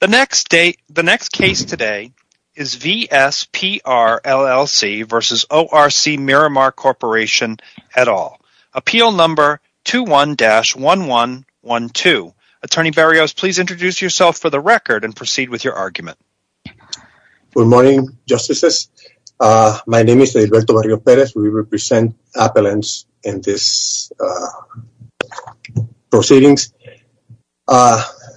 The next case today is VS PR, LLC v. ORC Miramar Corporation, et al. Appeal number 21-1112. Attorney Barrios, please introduce yourself for the record and proceed with your argument. Good morning, Justices. My name is Edilberto Barrios Perez. We represent Appellants in this proceedings.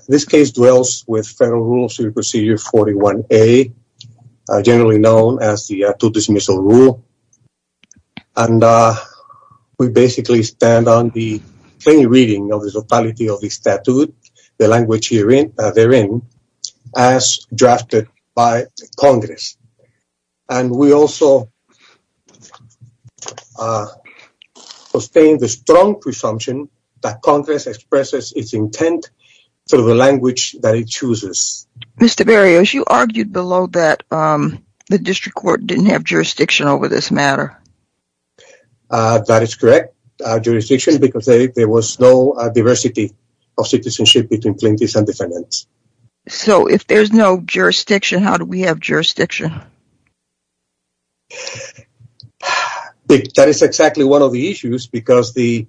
This case dwells with Federal Rules of Procedure 41A, generally known as the two-dismissal rule. We basically stand on the plain reading of the totality of the statute, the language therein, as drafted by Congress. And we also sustain the strong presumption that Congress expresses its intent through the language that it chooses. Mr. Barrios, you argued below that the District Court didn't have jurisdiction over this matter. That is correct, jurisdiction, because there was no diversity of citizenship between plaintiffs and defendants. So if there's no jurisdiction, how do we have jurisdiction? That is exactly one of the issues, because the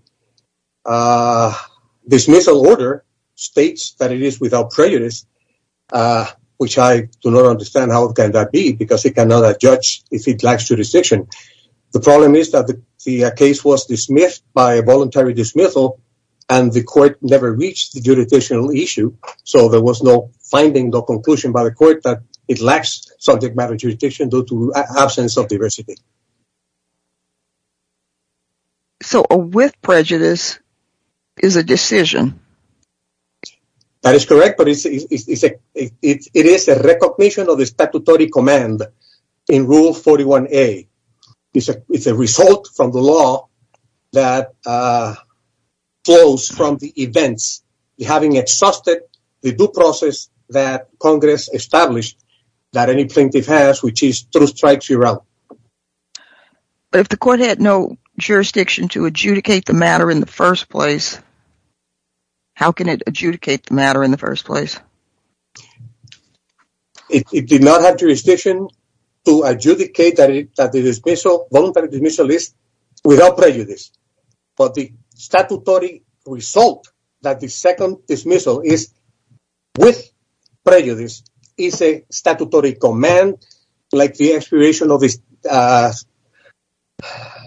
dismissal order states that it is without prejudice, which I do not understand how can that be, because it cannot judge if it lacks jurisdiction. The problem is that the case was dismissed by a voluntary dismissal, and the court never reached the jurisdictional issue, so there was no finding, no conclusion by the court that it lacks subject matter jurisdiction due to absence of diversity. So a with prejudice is a decision? That is correct, but it is a recognition of the statutory command in Rule 41A. It's a result from the law that flows from the events, having exhausted the due process that Congress established that any plaintiff has, which is true strikes, you're out. But if the court had no jurisdiction to adjudicate the matter in the first place, how can it adjudicate the matter in the first place? It did not have jurisdiction to adjudicate that the voluntary dismissal is without prejudice, but the statutory result that the second dismissal is with prejudice is a statutory command, like the expiration of the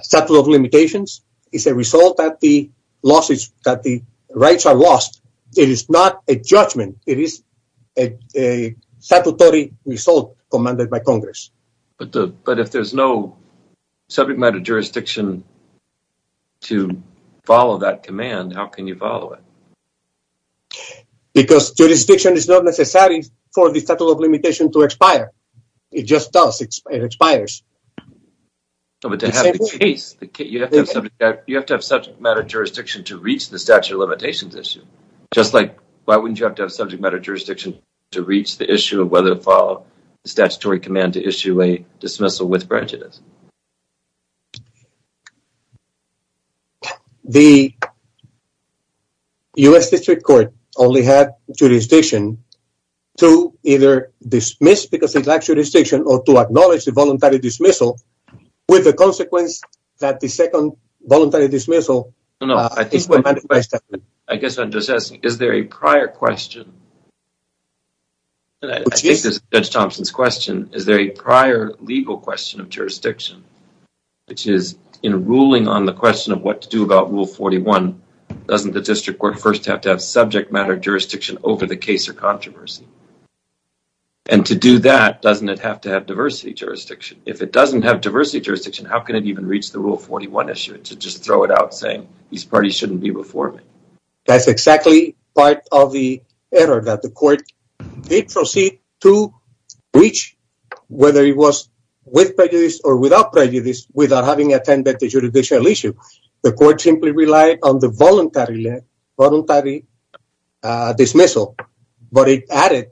statute of limitations. It's a result that the rights are lost. It is not a judgment. It is a statutory result commanded by Congress. But if there's no subject matter jurisdiction to follow that command, how can you follow it? Because jurisdiction is not necessary for the statute of limitations to expire. It just does. It expires. But to have the case, you have to have subject matter jurisdiction to reach the statute of limitations issue. Just like why wouldn't you have to have subject matter jurisdiction to reach the issue of whether to follow the statutory command to issue a dismissal with prejudice? The U.S. District Court only had jurisdiction to either dismiss because it lacked jurisdiction or to acknowledge the voluntary dismissal with the consequence that the second voluntary dismissal is without prejudice. I guess I'm just asking, is there a prior question? I think this is Judge Thompson's question. Is there a prior legal question of jurisdiction? Which is, in ruling on the question of what to do about Rule 41, doesn't the District Court first have to have subject matter jurisdiction over the case or controversy? And to do that, doesn't it have to have diversity jurisdiction? If it doesn't have diversity jurisdiction, how can it even reach the Rule 41 issue to just throw it out saying these parties shouldn't be before me? That's exactly part of the error that the court did proceed to reach whether it was with prejudice or without prejudice without having attended the judicial issue. The court simply relied on the voluntary dismissal, but it added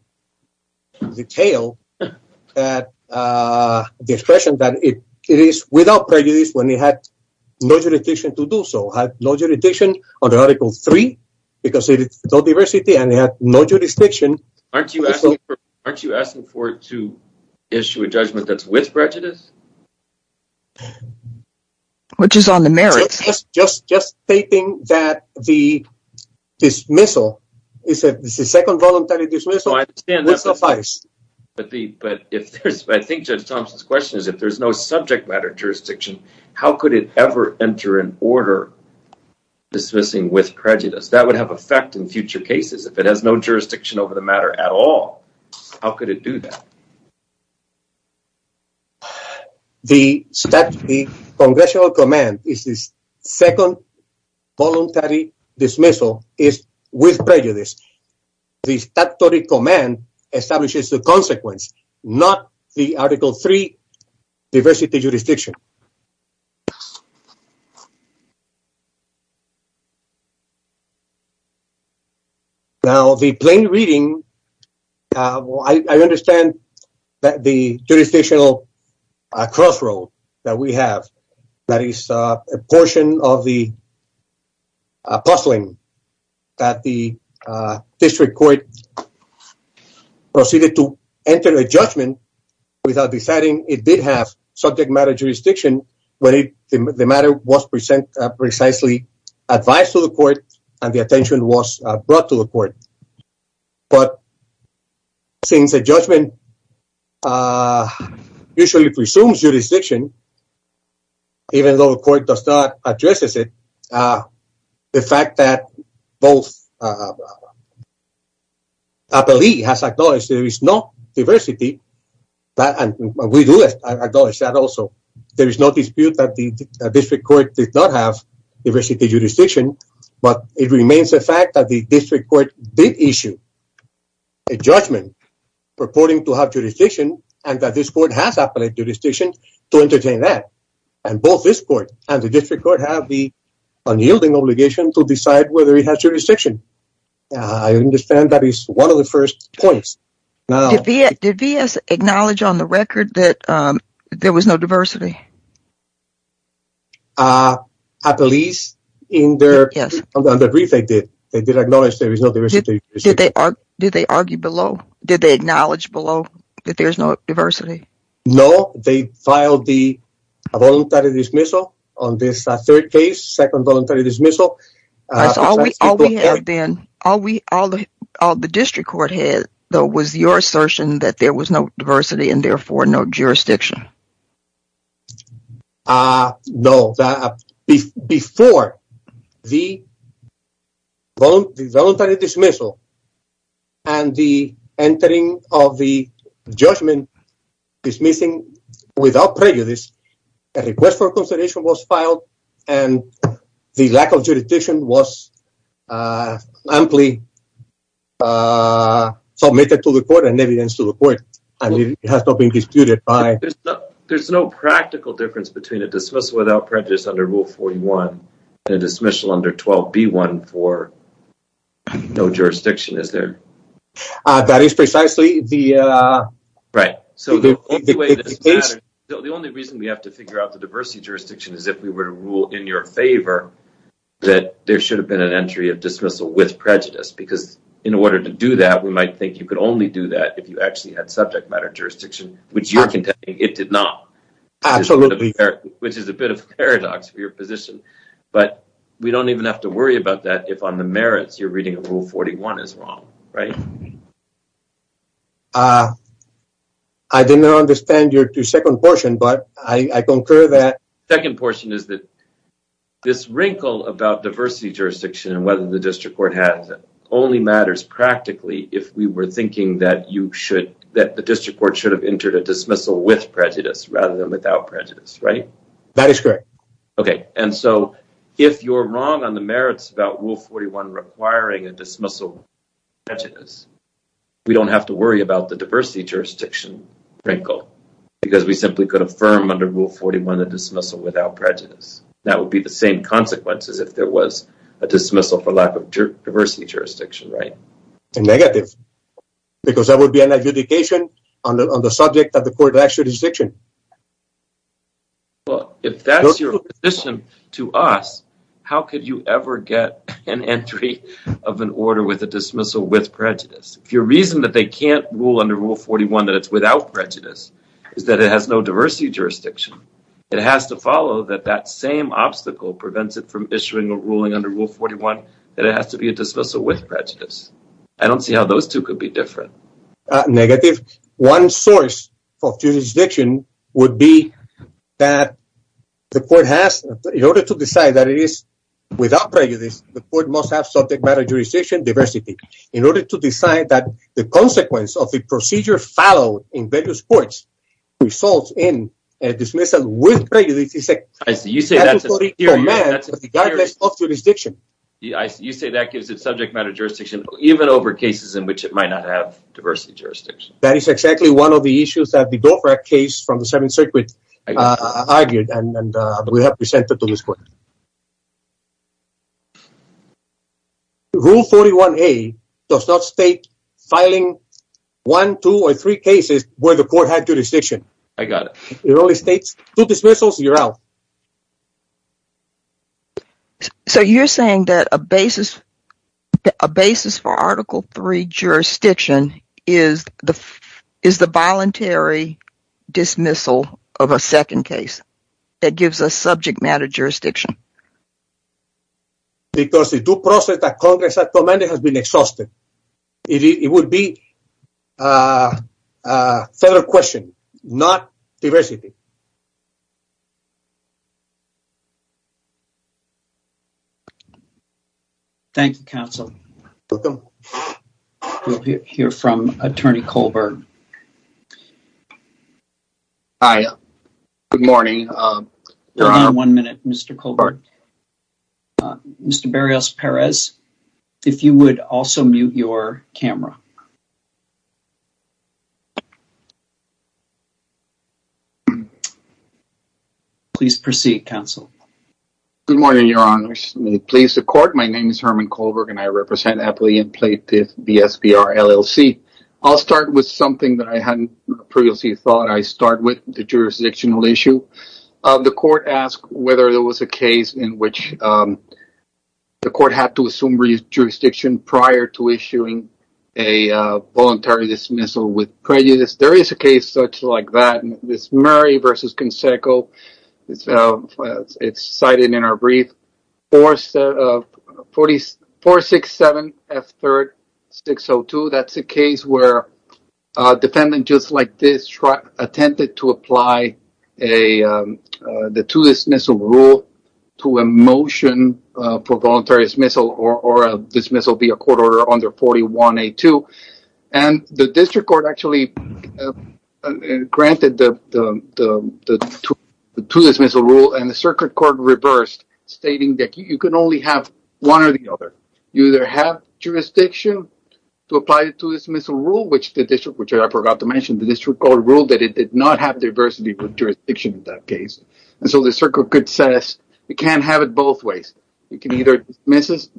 the tail, the expression that it is without prejudice when it had no jurisdiction to do so. It had no jurisdiction under Article 3 because it had no diversity and it had no jurisdiction. Aren't you asking for it to issue a judgment that's with prejudice? Which is on the merits. Just stating that the dismissal is a second voluntary dismissal would suffice. But I think Judge Thompson's question is if there's no subject matter jurisdiction, how could it ever enter an order dismissing with prejudice? That would have effect in future cases if it has no jurisdiction over the matter at all. How could it do that? The congressional command is this second voluntary dismissal is with prejudice. The statutory command establishes the consequence, not the Article 3 diversity jurisdiction. Now, the plain reading, I understand that the jurisdictional crossroad that we have, that is a portion of the puzzling that the district court proceeded to enter a judgment without deciding it did have subject matter jurisdiction. When the matter was present, precisely advised to the court and the attention was brought to the court. But since the judgment usually presumes jurisdiction, even though the court does not address it. The fact that both. Appellee has acknowledged there is no diversity, but we do acknowledge that also. There is no dispute that the district court did not have diversity jurisdiction. But it remains the fact that the district court did issue a judgment purporting to have jurisdiction and that this court has appellate jurisdiction to entertain that. And both this court and the district court have the unyielding obligation to decide whether it has jurisdiction. I understand that is one of the first points. Did V.S. acknowledge on the record that there was no diversity? Appellees, in their brief, they did. They did acknowledge there is no diversity. Did they argue below? Did they acknowledge below that there is no diversity? No, they filed the voluntary dismissal on this third case, second voluntary dismissal. All the district court had, though, was your assertion that there was no diversity and therefore no jurisdiction. No. Before the voluntary dismissal and the entering of the judgment, dismissing without prejudice, a request for consideration was filed and the lack of jurisdiction was amply submitted to the court and evidence to the court. There is no practical difference between a dismissal without prejudice under Rule 41 and a dismissal under 12B1 for no jurisdiction, is there? That is precisely the case. The only reason we have to figure out the diversity jurisdiction is if we were to rule in your favor that there should have been an entry of dismissal with prejudice. Because in order to do that, we might think you could only do that if you actually had subject matter jurisdiction, which you are contending it did not. Absolutely. Which is a bit of a paradox for your position. But we don't even have to worry about that if on the merits you are reading that Rule 41 is wrong, right? I did not understand your second portion, but I concur that... The second portion is that this wrinkle about diversity jurisdiction and whether the district court has it only matters practically if we were thinking that the district court should have entered a dismissal with prejudice rather than without prejudice, right? That is correct. Okay, and so if you are wrong on the merits about Rule 41 requiring a dismissal without prejudice, we don't have to worry about the diversity jurisdiction wrinkle because we simply could affirm under Rule 41 a dismissal without prejudice. That would be the same consequences if there was a dismissal for lack of diversity jurisdiction, right? Negative, because that would be an adjudication on the subject that the court lacks jurisdiction. Well, if that's your position to us, how could you ever get an entry of an order with a dismissal with prejudice? If your reason that they can't rule under Rule 41 that it's without prejudice is that it has no diversity jurisdiction, it has to follow that that same obstacle prevents it from issuing a ruling under Rule 41 that it has to be a dismissal with prejudice. I don't see how those two could be different. Negative. One source of jurisdiction would be that the court has in order to decide that it is without prejudice, the court must have subject matter jurisdiction diversity in order to decide that the consequence of the procedure followed in various courts results in a dismissal with prejudice. You say that gives it subject matter jurisdiction, even over cases in which it might not have diversity jurisdiction. That is exactly one of the issues that the Dover case from the Seventh Circuit argued and we have presented to this court. Rule 41 a does not state filing one, two or three cases where the court had jurisdiction. I got it. It only states two dismissals and you're out. So you're saying that a basis for Article 3 jurisdiction is the voluntary dismissal of a second case that gives us subject matter jurisdiction? Because the due process that Congress has commanded has been exhausted. It would be a federal question, not diversity. Thank you, counsel. We'll hear from Attorney Colburn. Hi. Good morning. One minute, Mr. Colburn. Mr. Berrios Perez, if you would also mute your camera. Please proceed, counsel. Good morning, Your Honor. Please, the court. My name is Herman Colberg and I represent Appalachian Plaintiff BSBR LLC. I'll start with something that I hadn't previously thought. I'll start with the jurisdictional issue. The court asked whether there was a case in which the court had to assume jurisdiction prior to issuing a voluntary dismissal with prejudice. There is a case such like that. It's Murray v. Conseco. It's cited in our brief. 467F3-602. That's a case where a defendant just like this attempted to apply the to-dismissal rule to a motion for voluntary dismissal or a dismissal via court order under 41A2. The district court actually granted the to-dismissal rule and the circuit court reversed, stating that you can only have one or the other. You either have jurisdiction to apply the to-dismissal rule, which I forgot to mention, the district court ruled that it did not have diversity of jurisdiction in that case. The circuit court says you can't have it both ways. You can either dismiss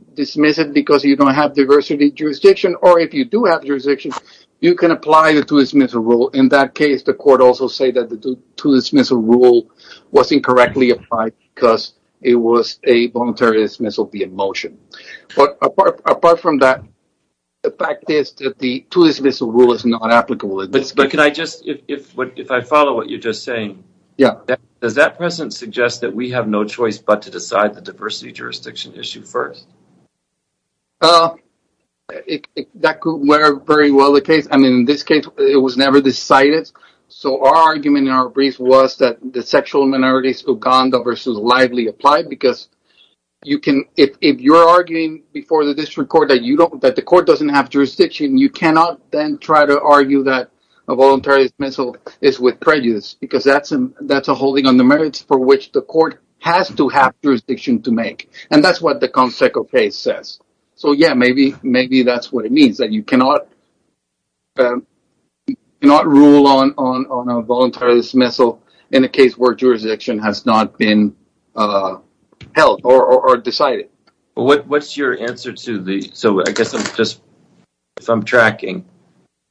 it because you don't have diversity of jurisdiction, or if you do have jurisdiction, you can apply the to-dismissal rule. In that case, the court also said that the to-dismissal rule was incorrectly applied because it was a voluntary dismissal via motion. Apart from that, the fact is that the to-dismissal rule is not applicable in this case. If I follow what you're just saying, does that present suggest that we have no choice but to decide the diversity of jurisdiction issue first? That could very well be the case. In this case, it was never decided. Our argument in our brief was that the sexual minorities Uganda versus lively applied. If you're arguing before the district court that the court doesn't have jurisdiction, you cannot then try to argue that a voluntary dismissal is with prejudice. That's a holding on the merits for which the court has to have jurisdiction to make. That's what the Conseco case says. Maybe that's what it means. You cannot rule on a voluntary dismissal in a case where jurisdiction has not been held or decided. What's your answer to this? If I'm tracking,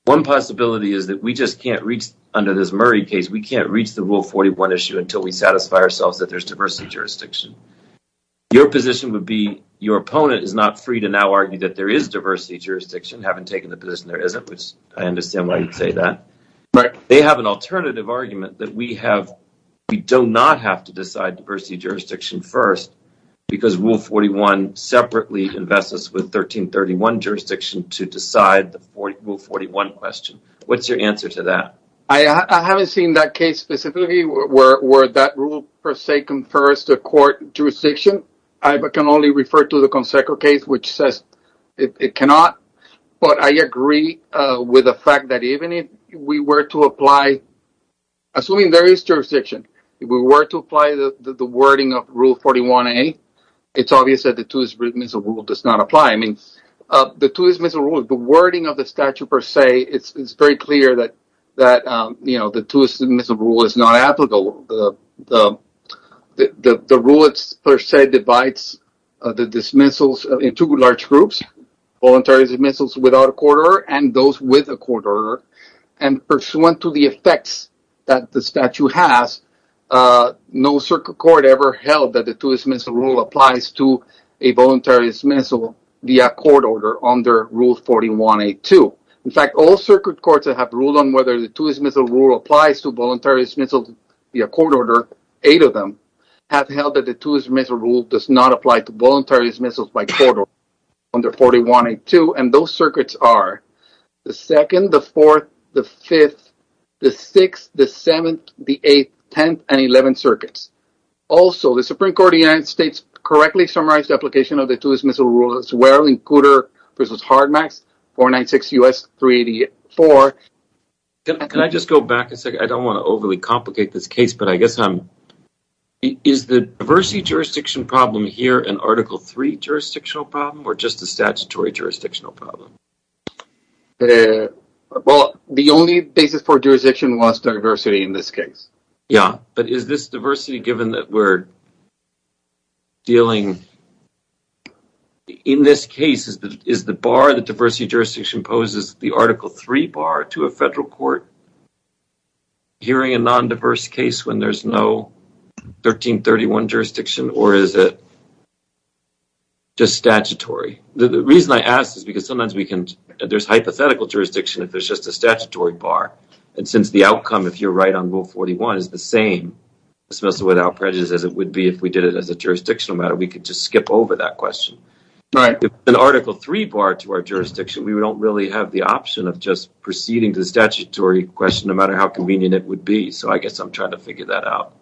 one possibility is that under this Murray case, we can't reach the Rule 41 issue until we satisfy ourselves that there's diversity of jurisdiction. Your position would be your opponent is not free to now argue that there is diversity of jurisdiction, having taken the position there isn't, which I understand why you'd say that. They have an alternative argument that we do not have to decide diversity of jurisdiction first because Rule 41 separately invests us with 1331 jurisdiction to decide the Rule 41 question. What's your answer to that? I haven't seen that case specifically where that rule per se confers to court jurisdiction. I can only refer to the Conseco case, which says it cannot, but I agree with the fact that even if we were to apply, assuming there is jurisdiction, if we were to apply the wording of Rule 41A, it's obvious that the two-dismissal rule does not apply. The two-dismissal rule, the wording of the statute per se, it's very clear that the two-dismissal rule is not applicable. The rule per se divides the dismissals into two large groups, voluntary dismissals without a court order and those with a court order. Pursuant to the effects that the statute has, no circuit court ever held that the two-dismissal rule applies to a voluntary dismissal via court order under Rule 41A2. In fact, all circuit courts that have ruled on whether the two-dismissal rule applies to voluntary dismissals via court order, eight of them, have held that the two-dismissal rule does not apply to voluntary dismissals by court order under 41A2. And those circuits are the 2nd, the 4th, the 5th, the 6th, the 7th, the 8th, 10th, and 11th circuits. Also, the Supreme Court of the United States correctly summarized the application of the two-dismissal rule as well in Cooter v. Hardmax 496 U.S. 384. Can I just go back a second? I don't want to overly complicate this case, but I guess I'm... Is the diversity jurisdiction problem here an Article III jurisdictional problem or just a statutory jurisdictional problem? Well, the only basis for jurisdiction was diversity in this case. Yeah, but is this diversity given that we're dealing... In this case, is the bar the diversity jurisdiction poses the Article III bar to a federal court hearing a non-diverse case when there's no 1331 jurisdiction or is it just statutory? The reason I ask is because sometimes we can... There's hypothetical jurisdiction if there's just a statutory bar. And since the outcome, if you're right on Rule 41, is the same dismissal without prejudice as it would be if we did it as a jurisdictional matter, we could just skip over that question. If it's an Article III bar to our jurisdiction, we don't really have the option of just proceeding to the statutory question no matter how convenient it would be. So I guess I'm trying to figure that out.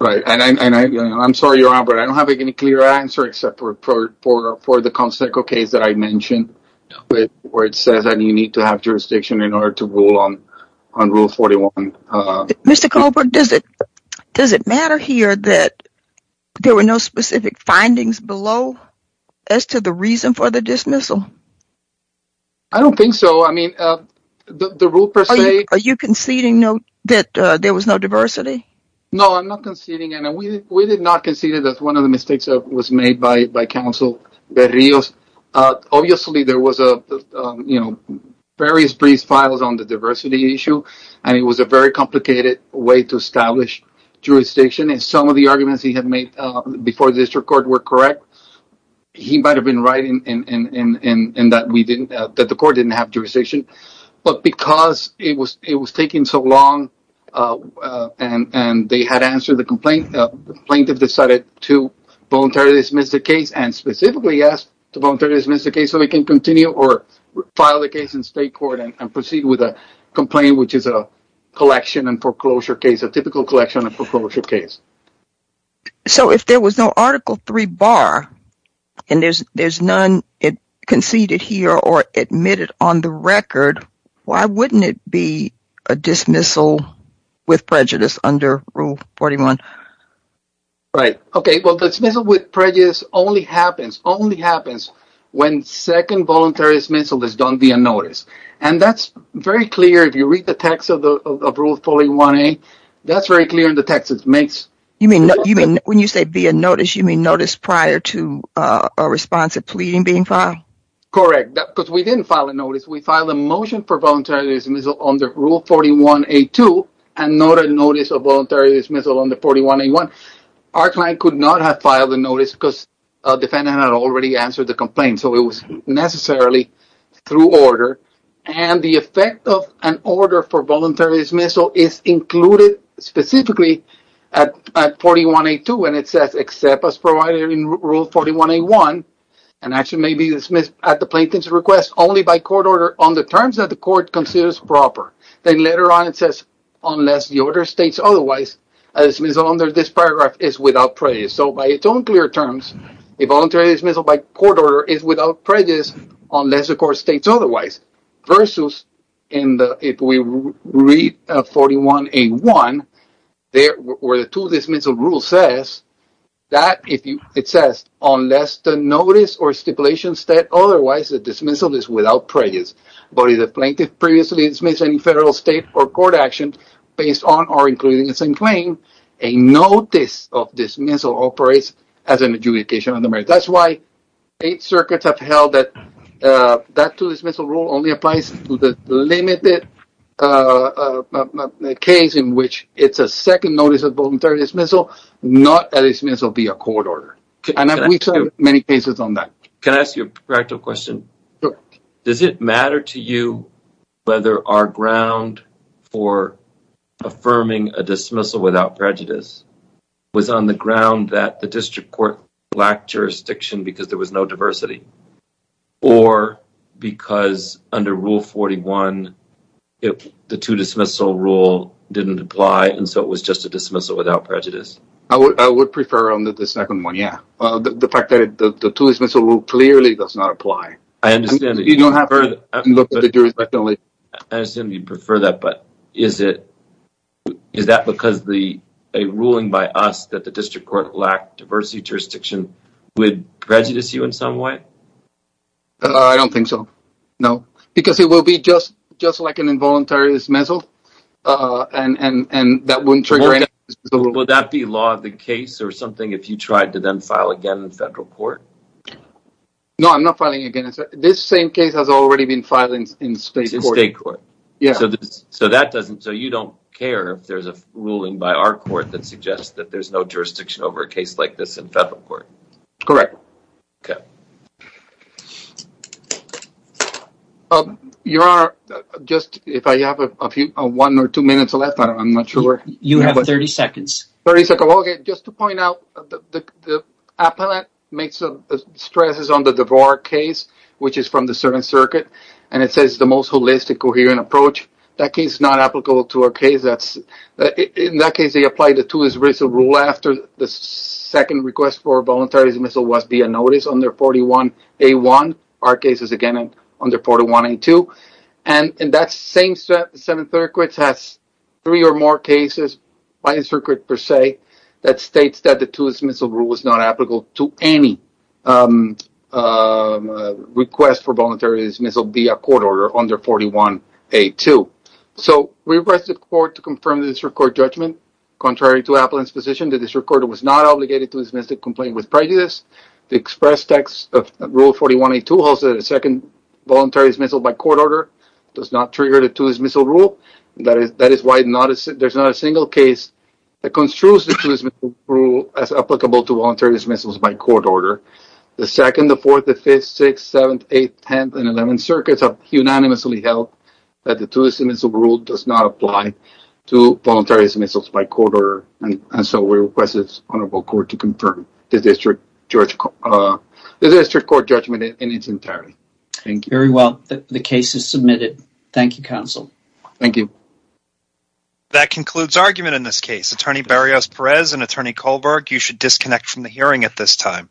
Right. And I'm sorry, Your Honor, but I don't have any clear answer except for the Constitutional case that I mentioned where it says that you need to have jurisdiction in order to rule on Rule 41. Mr. Colbert, does it matter here that there were no specific findings below as to the reason for the dismissal? I don't think so. I mean, the rule per se... Are you conceding that there was no diversity? No, I'm not conceding, and we did not concede that one of the mistakes was made by Counsel Berrios. Obviously, there was various brief files on the diversity issue, and it was a very complicated way to establish jurisdiction. And some of the arguments he had made before the district court were correct. He might have been right in that the court didn't have jurisdiction. But because it was taking so long and they had answered the complaint, the plaintiff decided to voluntarily dismiss the case and specifically asked to voluntarily dismiss the case so he can continue or file the case in state court and proceed with a complaint, which is a collection and foreclosure case, a typical collection and foreclosure case. So if there was no Article 3 bar and there's none conceded here or admitted on the record, why wouldn't it be a dismissal with prejudice under Rule 41? Right. Okay, well, dismissal with prejudice only happens when second voluntary dismissal is done via notice. And that's very clear if you read the text of Rule 41A. That's very clear in the text. You mean when you say via notice, you mean notice prior to a response of pleading being filed? Correct, because we didn't file a notice. We filed a motion for voluntary dismissal under Rule 41A2 and not a notice of voluntary dismissal under 41A1. Our client could not have filed a notice because a defendant had already answered the complaint, so it was necessarily through order. And the effect of an order for voluntary dismissal is included specifically at 41A2 when it says except as provided in Rule 41A1 and actually may be dismissed at the plaintiff's request only by court order on the terms that the court considers proper. Then later on it says, unless the order states otherwise, a dismissal under this paragraph is without prejudice. So by its own clear terms, a voluntary dismissal by court order is without prejudice unless the court states otherwise. Versus if we read 41A1, where the two dismissal rules says, unless the notice or stipulation states otherwise, the dismissal is without prejudice. But if the plaintiff previously dismissed any federal, state, or court action based on or including the same claim, a notice of dismissal operates as an adjudication on the merits. That's why eight circuits have held that that two dismissal rule only applies to the limited case in which it's a second notice of voluntary dismissal, not a dismissal via court order. And we've had many cases on that. Can I ask you a practical question? Does it matter to you whether our ground for affirming a dismissal without prejudice was on the ground that the district court lacked jurisdiction because there was no diversity? Or because under Rule 41, the two dismissal rule didn't apply and so it was just a dismissal without prejudice? I would prefer the second one, yeah. The fact that the two dismissal rule clearly does not apply. I understand that you prefer that, but is that because a ruling by us that the district court lacked diversity jurisdiction would prejudice you in some way? I don't think so, no. Because it would be just like an involuntary dismissal and that wouldn't trigger any dismissal. Would that be law of the case or something if you tried to then file again in federal court? No, I'm not filing again. This same case has already been filed in state court. So you don't care if there's a ruling by our court that suggests that there's no jurisdiction over a case like this in federal court? Correct. Okay. Your Honor, just if I have one or two minutes left, I'm not sure. You have 30 seconds. Okay, just to point out, the appellant stresses on the DeVore case, which is from the servant circuit, and it says the most holistic, coherent approach. That case is not applicable to our case. In that case, they applied the two dismissal rule after the second request for a voluntary dismissal was via notice under 41A1. Our case is, again, under 41A2. And that same servant circuit has three or more cases by the circuit per se that states that the two dismissal rule is not applicable to any request for voluntary dismissal via court order under 41A2. So we request the court to confirm the district court judgment. Contrary to appellant's position, the district court was not obligated to dismiss the complaint with prejudice. The express text of rule 41A2 holds that a second voluntary dismissal by court order does not trigger the two dismissal rule. That is why there's not a single case that construes the two dismissal rule as applicable to voluntary dismissals by court order. The 2nd, the 4th, the 5th, 6th, 7th, 8th, 10th, and 11th circuits have unanimously held that the two dismissal rule does not apply to voluntary dismissals by court order. And so we request the honorable court to confirm the district court judgment in its entirety. Very well. The case is submitted. Thank you, counsel. Thank you. That concludes argument in this case. Attorney Berrios-Perez and Attorney Kohlberg, you should disconnect from the hearing at this time.